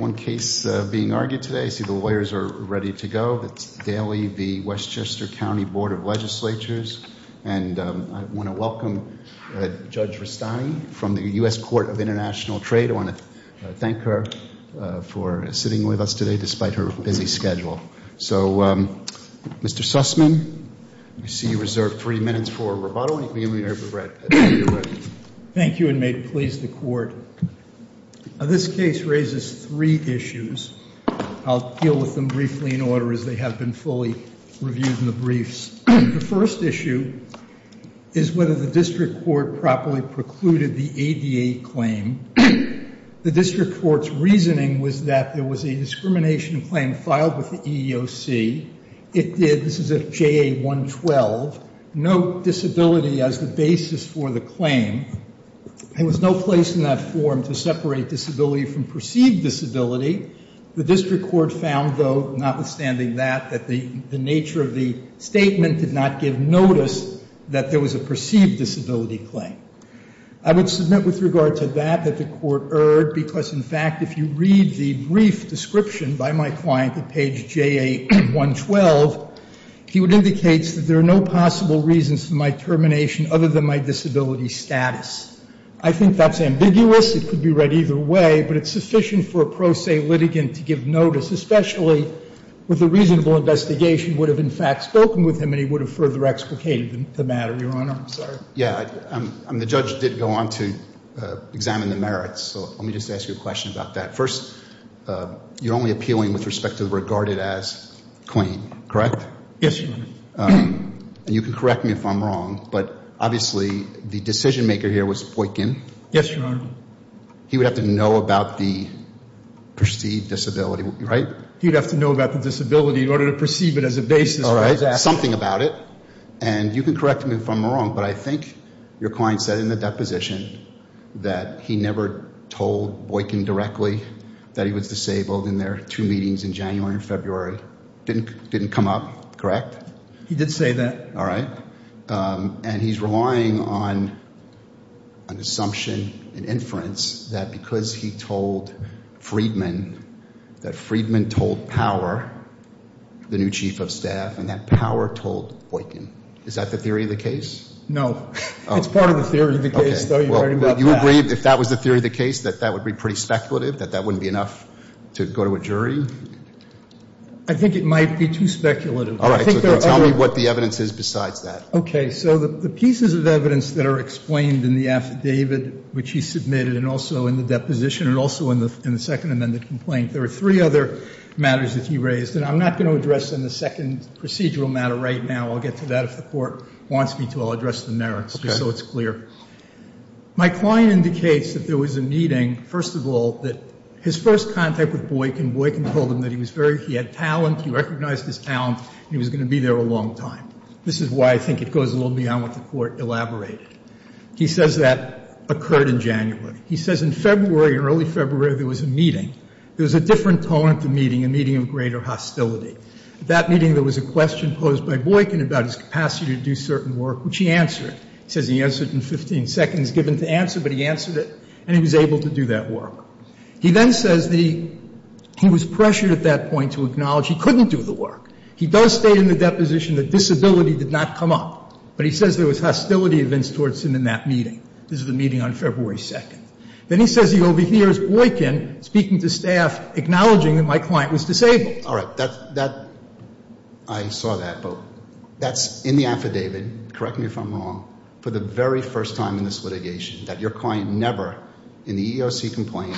I have one case being argued today. I see the lawyers are ready to go. That's Daly v. Westchester County Board of Legislators. And I want to welcome Judge Rustani from the U.S. Court of International Trade. I want to thank her for sitting with us today despite her busy schedule. So, Mr. Sussman, I see you reserved three minutes for rebuttal. You can begin when you're ready. Thank you and may it please the court. This case raises three issues. I'll deal with them briefly in order as they have been fully reviewed in the briefs. The first issue is whether the district court properly precluded the ADA claim. The district court's reasoning was that there was a discrimination claim filed with the EEOC. It did. This is at JA 112. Note disability as the basis for the claim. There was no place in that form to separate disability from perceived disability. The district court found, though, notwithstanding that, that the nature of the statement did not give notice that there was a perceived disability claim. I would submit with regard to that that the court erred because, in fact, if you read the brief description by my client at page JA 112, he would indicate that there are no possible reasons for my termination other than my disability status. I think that's ambiguous. It could be read either way, but it's sufficient for a pro se litigant to give notice, especially with the reasonable investigation would have, in fact, spoken with him and he would have further explicated the matter, Your Honor. Yeah. The judge did go on to examine the merits. So let me just ask you a question about that. First, you're only appealing with respect to regarded as clean, correct? Yes, Your Honor. You can correct me if I'm wrong, but obviously the decision maker here was Boykin. Yes, Your Honor. He would have to know about the perceived disability, right? He'd have to know about the disability in order to perceive it as a basis. And you can correct me if I'm wrong, but I think your client said in the deposition that he never told Boykin directly that he was disabled in their two meetings in January and February. Didn't come up, correct? He did say that. All right. And he's relying on an assumption, an inference that because he told Friedman that Friedman told Power, the new chief of staff, and that Power told Boykin. Is that the theory of the case? No. It's part of the theory of the case, though. You agree if that was the theory of the case that that would be pretty speculative, that that wouldn't be enough to go to a jury? I think it might be too speculative. All right. So tell me what the evidence is besides that. So the pieces of evidence that are explained in the affidavit which he submitted and also in the deposition and also in the second amended complaint, there are three other matters that he raised. And I'm not going to address them in the second procedural matter right now. I'll get to that if the court wants me to. I'll address the merits just so it's clear. Okay. My client indicates that there was a meeting, first of all, that his first contact with Boykin, Boykin told him that he was very, he had talent, he recognized his talent. He was going to be there a long time. This is why I think it goes a little beyond what the Court elaborated. He says that occurred in January. He says in February, in early February, there was a meeting. There was a different tone at the meeting, a meeting of greater hostility. At that meeting, there was a question posed by Boykin about his capacity to do certain work, which he answered. He says he answered in 15 seconds given to answer, but he answered it and he was able to do that work. He then says that he was pressured at that point to acknowledge he couldn't do the work. He does state in the deposition that disability did not come up, but he says there was hostility events towards him in that meeting. This is the meeting on February 2nd. Then he says he overhears Boykin speaking to staff, acknowledging that my client was disabled. All right. That, that, I saw that, but that's in the affidavit, correct me if I'm wrong, for the very first time in this litigation, that your client never, in the EEOC complaint,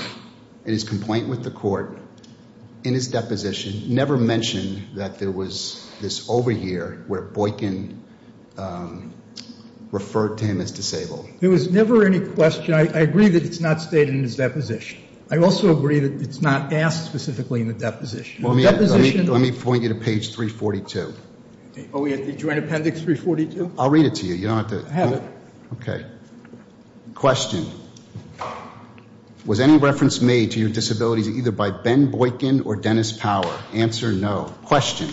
in his complaint with the court, in his deposition, never mentioned that there was this overhear where Boykin referred to him as disabled. There was never any question. I agree that it's not stated in his deposition. I also agree that it's not asked specifically in the deposition. Let me point you to page 342. Are we at the joint appendix 342? I'll read it to you. You don't have to. I have it. Okay. Was any reference made to your disabilities either by Ben Boykin or Dennis Power? Answer, no. Question.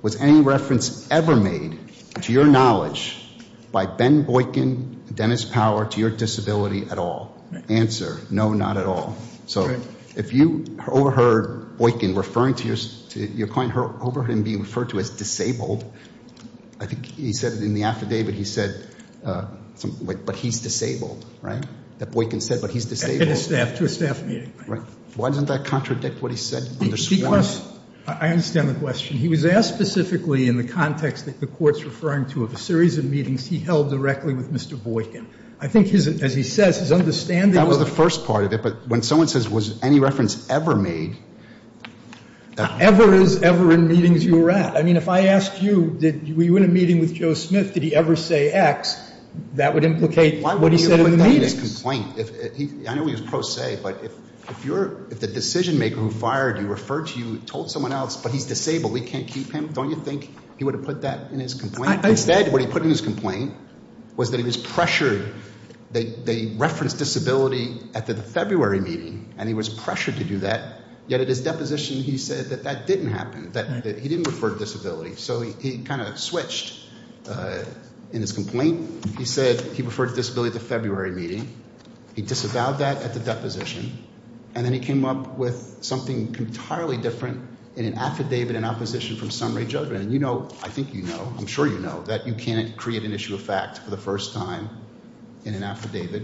Was any reference ever made to your knowledge by Ben Boykin, Dennis Power, to your disability at all? Answer, no, not at all. So if you overheard Boykin referring to your client, overheard him being referred to as disabled, I think he said it in the affidavit, he said, but he's disabled, right? That Boykin said, but he's disabled. To a staff meeting. Right. Why doesn't that contradict what he said? Because I understand the question. He was asked specifically in the context that the Court's referring to of a series of meetings he held directly with Mr. Boykin. I think, as he says, his understanding of it. That was the first part of it. But when someone says, was any reference ever made? Ever is ever in meetings you were at. I mean, if I asked you, were you in a meeting with Joe Smith, did he ever say X? That would implicate what he said in the meetings. Why would he have put that in his complaint? I know he was pro se, but if the decision-maker who fired you referred to you told someone else, but he's disabled, we can't keep him, don't you think he would have put that in his complaint? Instead, what he put in his complaint was that he was pressured, they referenced disability at the February meeting, and he was pressured to do that, yet at his deposition he said that that didn't happen. That he didn't refer to disability. So he kind of switched in his complaint. He said he referred to disability at the February meeting. He disavowed that at the deposition. And then he came up with something entirely different in an affidavit in opposition from summary judgment. And you know, I think you know, I'm sure you know, that you can't create an issue of fact for the first time in an affidavit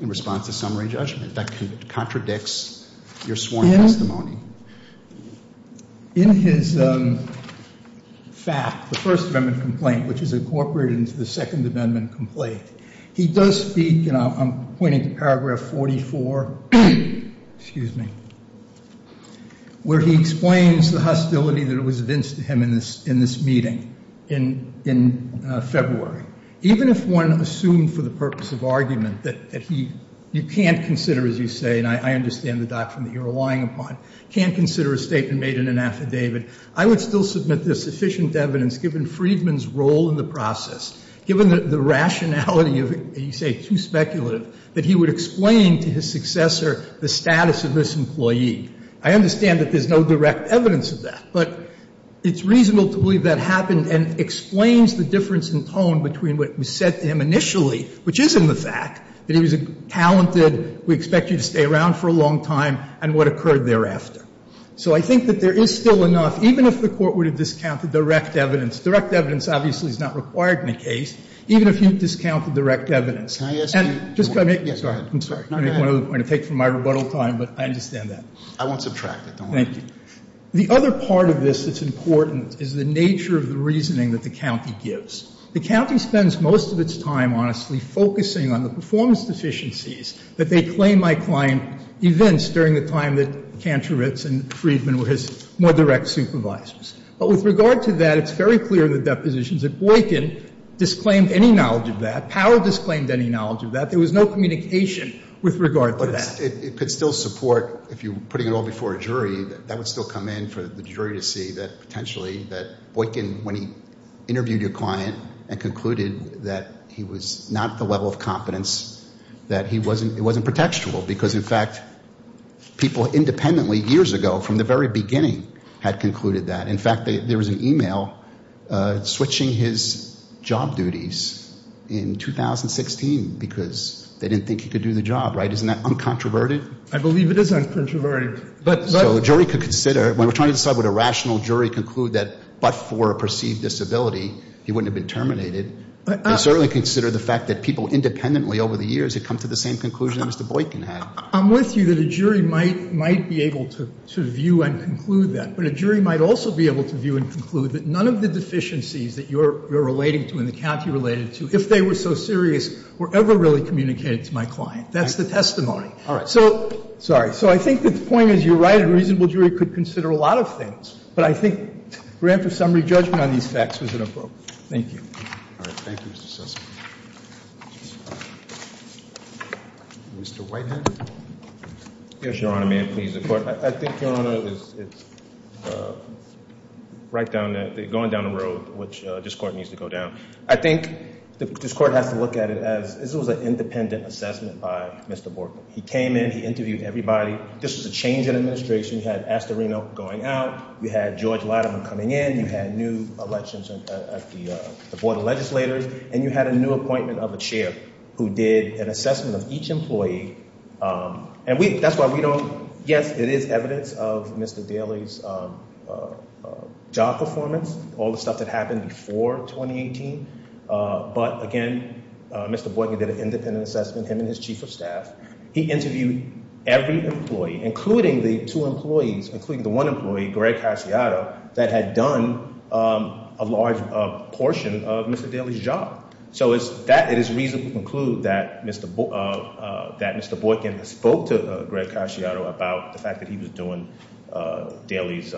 in response to summary judgment. That contradicts your sworn testimony. In his fact, the First Amendment complaint, which is incorporated into the Second Amendment complaint, he does speak, and I'm pointing to paragraph 44, excuse me, where he explains the hostility that was evinced to him in this meeting in February. Even if one assumed for the purpose of argument that he, you can't consider, as you say, and I understand the doctrine that you're relying upon, can't consider a statement made in an affidavit, I would still submit there's sufficient evidence, given Freedman's role in the process, given the rationality of, you say, too speculative, that he would explain to his successor the status of this employee. I understand that there's no direct evidence of that, but it's reasonable to believe that happened and explains the difference in tone between what was said to him initially, which is in the fact that he was a talented, we expect you to stay around for a long time, and what occurred thereafter. So I think that there is still enough, even if the Court were to discount the direct evidence, direct evidence obviously is not required in a case, even if you discount the direct evidence. And just to make one other point, I'm going to take from my rebuttal time, but I understand that. Thank you. The other part of this that's important is the nature of the reasoning that the county gives. The county spends most of its time, honestly, focusing on the performance deficiencies that they claim my client evinced during the time that Kantoritz and Freedman were his more direct supervisors. But with regard to that, it's very clear in the depositions that Boykin disclaimed any knowledge of that. Powell disclaimed any knowledge of that. There was no communication with regard to that. But it could still support, if you're putting it all before a jury, that that would still come in for the jury to see that potentially that Boykin, when he interviewed your client and concluded that he was not at the level of competence, that it wasn't pretextual. Because, in fact, people independently years ago, from the very beginning, had concluded that. In fact, there was an e-mail switching his job duties in 2016 because they didn't think he could do the job. Right? Isn't that uncontroverted? I believe it is uncontroverted. So a jury could consider, when we're trying to decide would a rational jury conclude that, but for a perceived disability, he wouldn't have been terminated, they certainly consider the fact that people independently over the years had come to the same conclusion as Mr. Boykin had. I'm with you that a jury might be able to view and conclude that. But a jury might also be able to view and conclude that none of the deficiencies that you're relating to and that Kathy related to, if they were so serious, were ever really communicated to my client. That's the testimony. All right. Sorry. So I think the point is you're right. A reasonable jury could consider a lot of things. But I think grant for summary judgment on these facts was inappropriate. Thank you. All right. Thank you, Mr. Sussman. Mr. Whitehead. Yes, Your Honor. May it please the Court. I think, Your Honor, it's right down, going down the road, which this Court needs to go down. I think this Court has to look at it as this was an independent assessment by Mr. Boykin. He came in. He interviewed everybody. This was a change in administration. You had Astorino going out. You had George Latimer coming in. You had new elections at the Board of Legislators. And you had a new appointment of a chair who did an assessment of each employee. And that's why we don't, yes, it is evidence of Mr. Daley's job performance, all the stuff that happened before 2018. But again, Mr. Boykin did an independent assessment, him and his chief of staff. He interviewed every employee, including the two employees, including the one employee, Greg Casciato, that had done a large portion of Mr. Daley's job. So that is reason to conclude that Mr. Boykin spoke to Greg Casciato about the fact that he was doing Daley's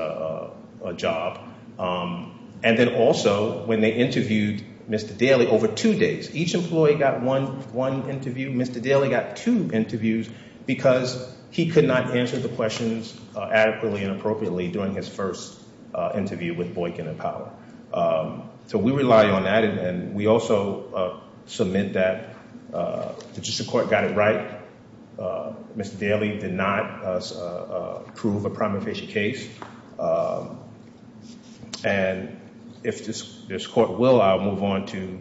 job. And then also, when they interviewed Mr. Daley over two days, each employee got one interview. Mr. Daley got two interviews because he could not answer the questions adequately and appropriately during his first interview with Boykin and Powell. So we rely on that. And we also submit that the district court got it right. Mr. Daley did not approve a prima facie case. And if this court will, I'll move on to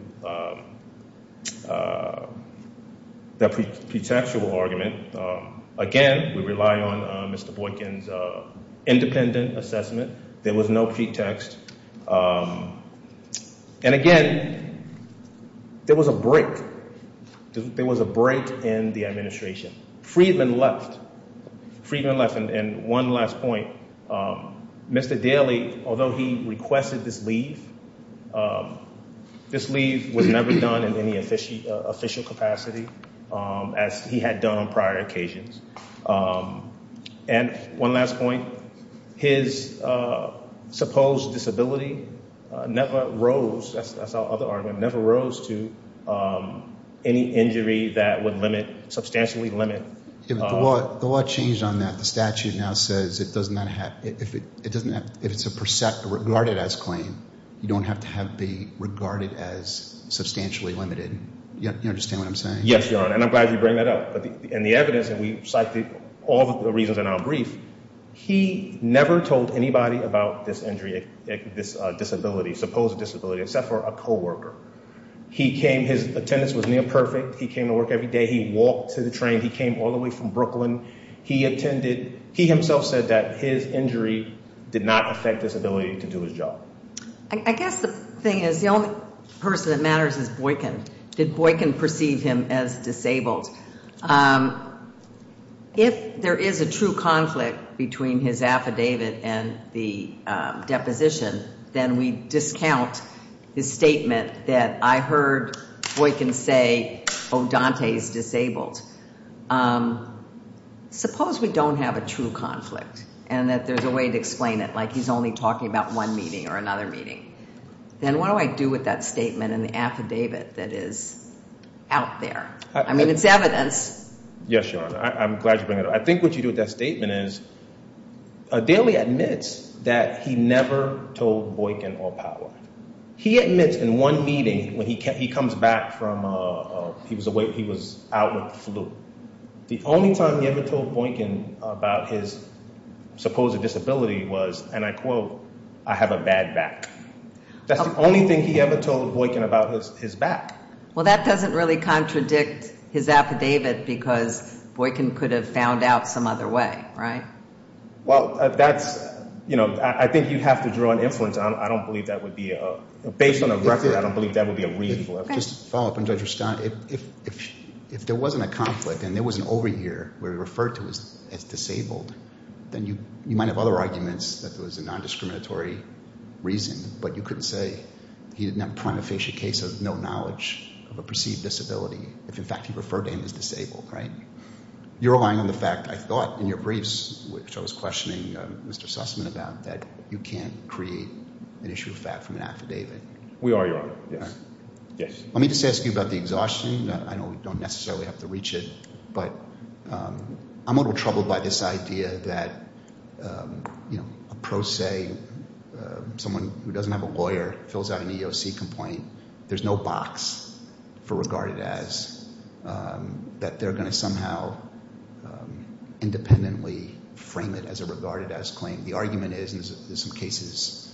the pretextual argument. Again, we rely on Mr. Boykin's independent assessment. There was no pretext. And again, there was a break. There was a break in the administration. Freedman left. And one last point. Mr. Daley, although he requested this leave, this leave was never done in any official capacity, as he had done on prior occasions. And one last point. His supposed disability never rose, that's our other argument, never rose to any injury that would limit, substantially limit. The law changed on that. The statute now says if it's a precept, regarded as claim, you don't have to have the regarded as substantially limited. You understand what I'm saying? Yes, Your Honor. And I'm glad you bring that up. And the evidence, and we cite all the reasons in our brief, he never told anybody about this injury, this disability, supposed disability, except for a co-worker. He came, his attendance was near perfect. He came to work every day. He walked to the train. He came all the way from Brooklyn. He attended. He himself said that his injury did not affect his ability to do his job. I guess the thing is, the only person that matters is Boykin. Did Boykin perceive him as disabled? If there is a true conflict between his affidavit and the deposition, then we discount his statement that I heard Boykin say, oh, Dante is disabled. Suppose we don't have a true conflict and that there's a way to explain it, like he's only talking about one meeting or another meeting. Then what do I do with that statement and the affidavit that is out there? I mean, it's evidence. Yes, Your Honor. I'm glad you bring it up. I think what you do with that statement is, Daley admits that he never told Boykin all power. He admits in one meeting when he comes back from, he was out with the flu, the only time he ever told Boykin about his supposed disability was, and I quote, I have a bad back. That's the only thing he ever told Boykin about his back. Well, that doesn't really contradict his affidavit because Boykin could have found out some other way, right? Well, that's, you know, I think you have to draw an influence. I don't believe that would be a, based on the record, I don't believe that would be a reasonable affidavit. If there wasn't a conflict and there was an over here where he referred to as disabled, then you might have other arguments that there was a non-discriminatory reason, but you couldn't say he didn't have a prima facie case of no knowledge of a perceived disability if, in fact, he referred to him as disabled, right? You're relying on the fact, I thought in your briefs, which I was questioning Mr. Sussman about, that you can't create an issue of fact from an affidavit. We are, Your Honor. Yes. Let me just ask you about the exhaustion. I know we don't necessarily have to reach it, but I'm a little troubled by this idea that, you know, a pro se, someone who doesn't have a lawyer, fills out an EEOC complaint, there's no box for regarded as, that they're going to somehow independently frame it as a regarded as claim. The argument is, and there's some cases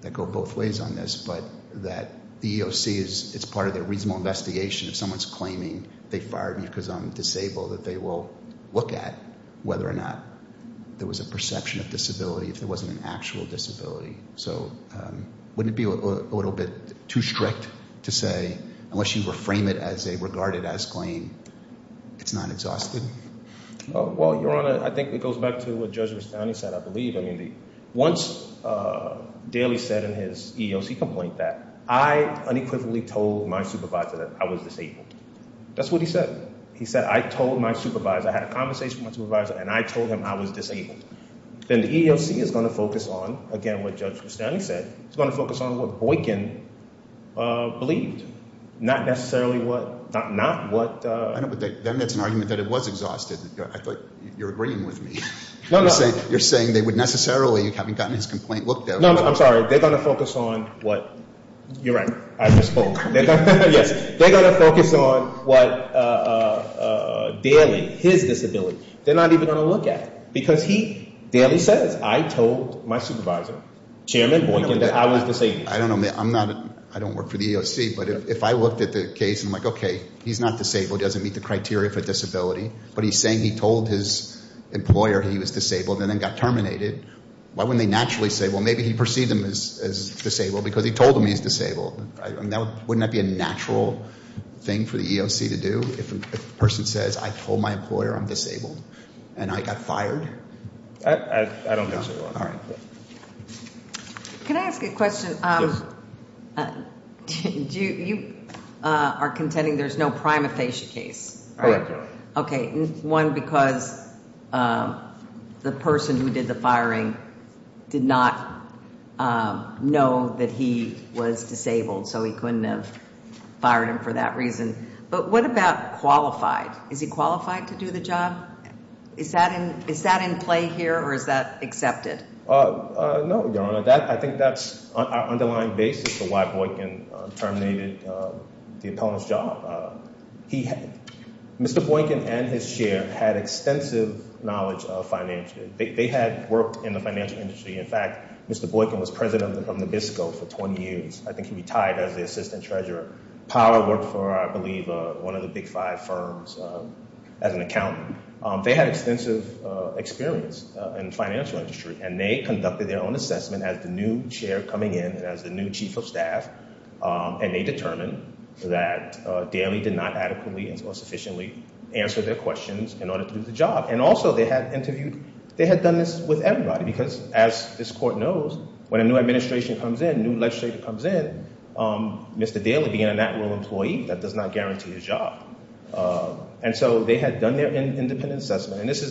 that go both ways on this, but that the EEOC, it's part of their reasonable investigation if someone's claiming they fired me because I'm disabled, that they will look at whether or not there was a perception of disability if there wasn't an actual disability. So wouldn't it be a little bit too strict to say, unless you reframe it as a regarded as claim, it's not exhausted? Well, Your Honor, I think it goes back to what Judge Rustani said, I believe. I mean, once Daly said in his EEOC complaint that I unequivocally told my supervisor that I was disabled. That's what he said. He said, I told my supervisor, I had a conversation with my supervisor, and I told him I was disabled. Then the EEOC is going to focus on, again, what Judge Rustani said, it's going to focus on what Boykin believed, not necessarily what, not what. I know, but then it's an argument that it was exhausted. I thought you were agreeing with me. No, no. You're saying they would necessarily, having gotten his complaint looked at. No, no, I'm sorry. They're going to focus on what, you're right, I misspoke. Yes, they're going to focus on what Daly, his disability, they're not even going to look at. Because he, Daly says, I told my supervisor, Chairman Boykin, that I was disabled. I don't work for the EEOC, but if I looked at the case and I'm like, okay, he's not disabled, doesn't meet the criteria for disability, but he's saying he told his employer he was disabled and then got terminated, why wouldn't they naturally say, well, maybe he perceived him as disabled because he told him he was disabled. Wouldn't that be a natural thing for the EEOC to do if a person says, I told my employer I'm disabled and I got fired? I don't think so. All right. Can I ask a question? Yes. You are contending there's no prima facie case. Correct. Okay. One, because the person who did the firing did not know that he was disabled, so he couldn't have fired him for that reason. But what about qualified? Is he qualified to do the job? Is that in play here or is that accepted? No, Your Honor. I think that's our underlying basis for why Boykin terminated the opponent's job. Mr. Boykin and his chair had extensive knowledge of finance. They had worked in the financial industry. In fact, Mr. Boykin was president of Nabisco for 20 years. I think he retired as the assistant treasurer. Powell worked for, I believe, one of the big five firms as an accountant. They had extensive experience in the financial industry, and they conducted their own assessment as the new chair coming in and as the new chief of staff, and they determined that Daley did not adequately or sufficiently answer their questions in order to do the job. And also they had interviewed ñ they had done this with everybody because, as this court knows, when a new administration comes in, a new legislator comes in, Mr. Daley being a natural employee, that does not guarantee his job. And so they had done their independent assessment. And this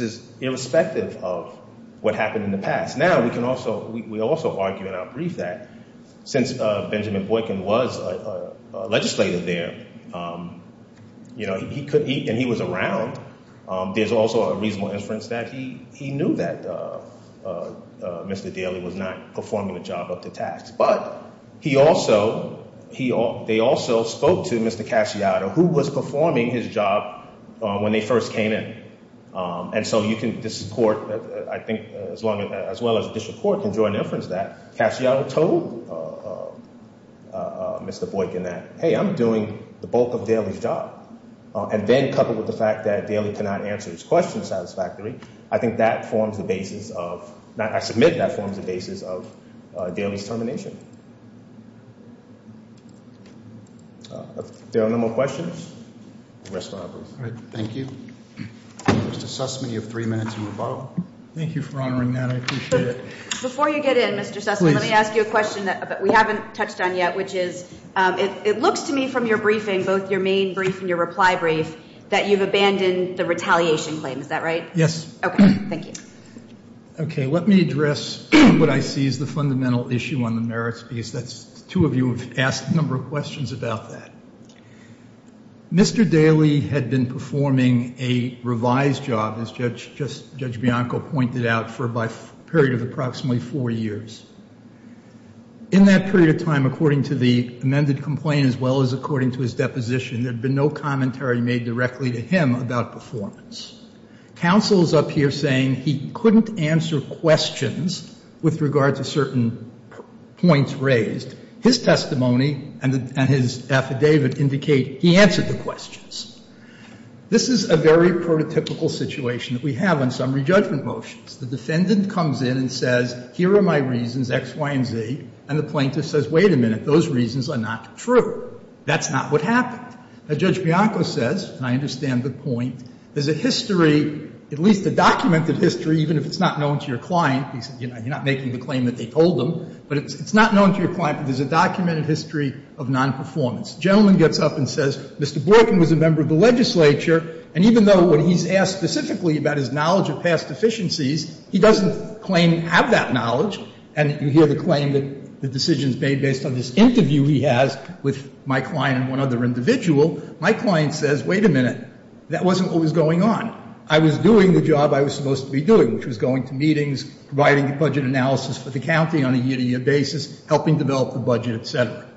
is irrespective of what happened in the past. Now we can also ñ we also argue in our brief that since Benjamin Boykin was a legislator there, you know, he could ñ and he was around. There's also a reasonable inference that he knew that Mr. Daley was not performing the job up to tax. But he also ñ they also spoke to Mr. Casciato, who was performing his job when they first came in. And so you can ñ this court, I think, as long as ñ as well as district court can draw an inference that Casciato told Mr. Boykin that, hey, I'm doing the bulk of Daley's job, and then coupled with the fact that Daley cannot answer his questions satisfactorily, I think that forms the basis of ñ I submit that forms the basis of Daley's termination. Are there no more questions? All right. Thank you. Mr. Sussman, you have three minutes to move on. Thank you for honoring that. I appreciate it. Before you get in, Mr. Sussman, let me ask you a question that we haven't touched on yet, which is it looks to me from your briefing, both your main brief and your reply brief, that you've abandoned the retaliation claim. Is that right? Yes. Okay. Thank you. Okay. Let me address what I see as the fundamental issue on the merits, because that's ñ two of you have asked a number of questions about that. Mr. Daley had been performing a revised job, as Judge Bianco pointed out, for a period of approximately four years. In that period of time, according to the amended complaint, as well as according to his deposition, there had been no commentary made directly to him about performance. Counsel is up here saying he couldn't answer questions with regard to certain points raised. His testimony and his affidavit indicate he answered the questions. This is a very prototypical situation that we have on summary judgment motions. The defendant comes in and says, here are my reasons, X, Y, and Z, and the plaintiff says, wait a minute, those reasons are not true. That's not what happened. As Judge Bianco says, and I understand the point, there's a history, at least a documented history, even if it's not known to your client, you're not making the claim that they told them, but it's not known to your client, but there's a documented history of nonperformance. The gentleman gets up and says, Mr. Borkin was a member of the legislature, and even though when he's asked specifically about his knowledge of past deficiencies, he doesn't claim to have that knowledge. And you hear the claim that the decision is made based on this interview he has with my client and one other individual. My client says, wait a minute, that wasn't what was going on. I was doing the job I was supposed to be doing, which was going to meetings, providing the budget analysis for the county on a year-to-year basis, helping develop the budget, et cetera.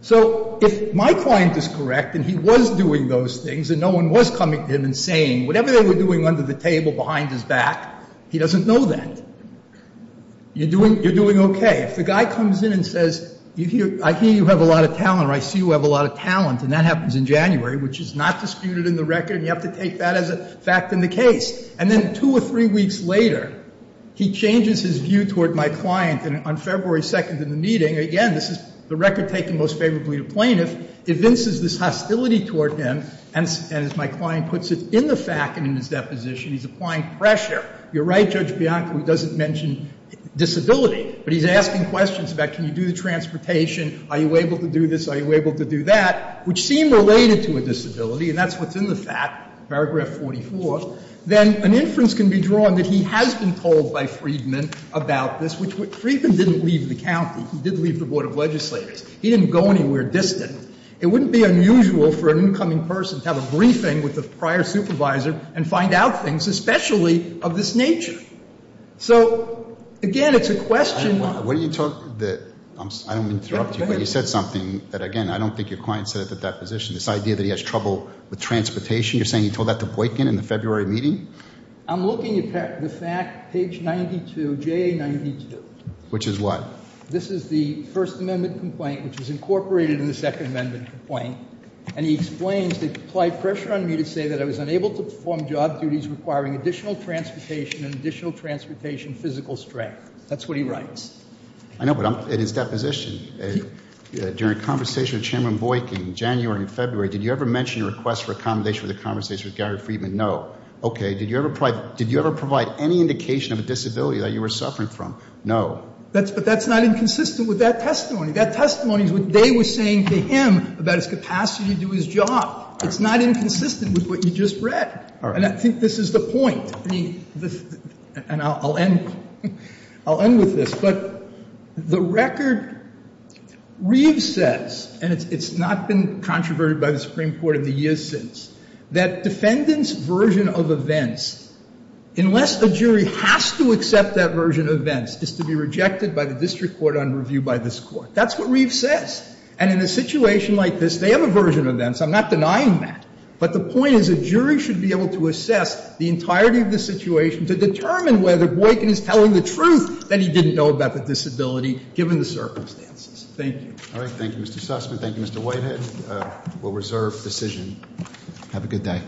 So if my client is correct, and he was doing those things, and no one was coming to him and saying whatever they were doing under the table, behind his back, he doesn't know that. You're doing okay. If the guy comes in and says, I hear you have a lot of talent, or I see you have a lot of talent, and that happens in January, which is not disputed in the record, and you have to take that as a fact in the case. And then two or three weeks later, he changes his view toward my client. And on February 2nd in the meeting, again, this is the record taken most favorably to plaintiff, evinces this hostility toward him, and as my client puts it, in the fact and in his deposition, he's applying pressure. You're right, Judge Bianco, he doesn't mention disability, but he's asking questions about can you do the transportation, are you able to do this, are you able to do that, which seem related to a disability, and that's what's in the fact, paragraph 44. Then an inference can be drawn that he has been told by Freedman about this, which Freedman didn't leave the county. He did leave the Board of Legislators. He didn't go anywhere distant. It wouldn't be unusual for an incoming person to have a briefing with a prior supervisor and find out things especially of this nature. So, again, it's a question of what do you talk the – I don't mean to interrupt you, but you said something that, again, I don't think your client said at the deposition, this idea that he has trouble with transportation. You're saying he told that to Boykin in the February meeting? I'm looking at the fact, page 92, JA92. Which is what? This is the First Amendment complaint, which is incorporated in the Second Amendment complaint, and he explains they applied pressure on me to say that I was unable to perform job duties requiring additional transportation and additional transportation physical strength. That's what he writes. I know, but I'm at his deposition. During a conversation with Chairman Boykin in January and February, did you ever mention a request for accommodation for the conversation with Gary Friedman? No. Okay. Did you ever provide any indication of a disability that you were suffering from? No. But that's not inconsistent with that testimony. That testimony is what they were saying to him about his capacity to do his job. It's not inconsistent with what you just read. And I think this is the point. And I'll end with this. But the record, Reeves says, and it's not been controverted by the Supreme Court in the years since, that defendants' version of events, unless a jury has to accept that version of events, is to be rejected by the district court on review by this court. That's what Reeves says. And in a situation like this, they have a version of events. I'm not denying that. But the point is a jury should be able to assess the entirety of the situation to determine whether Boykin is telling the truth that he didn't know about the disability given the circumstances. Thank you. All right. Thank you, Mr. Sussman. Thank you, Mr. Whitehead. We'll reserve decision. Have a good day.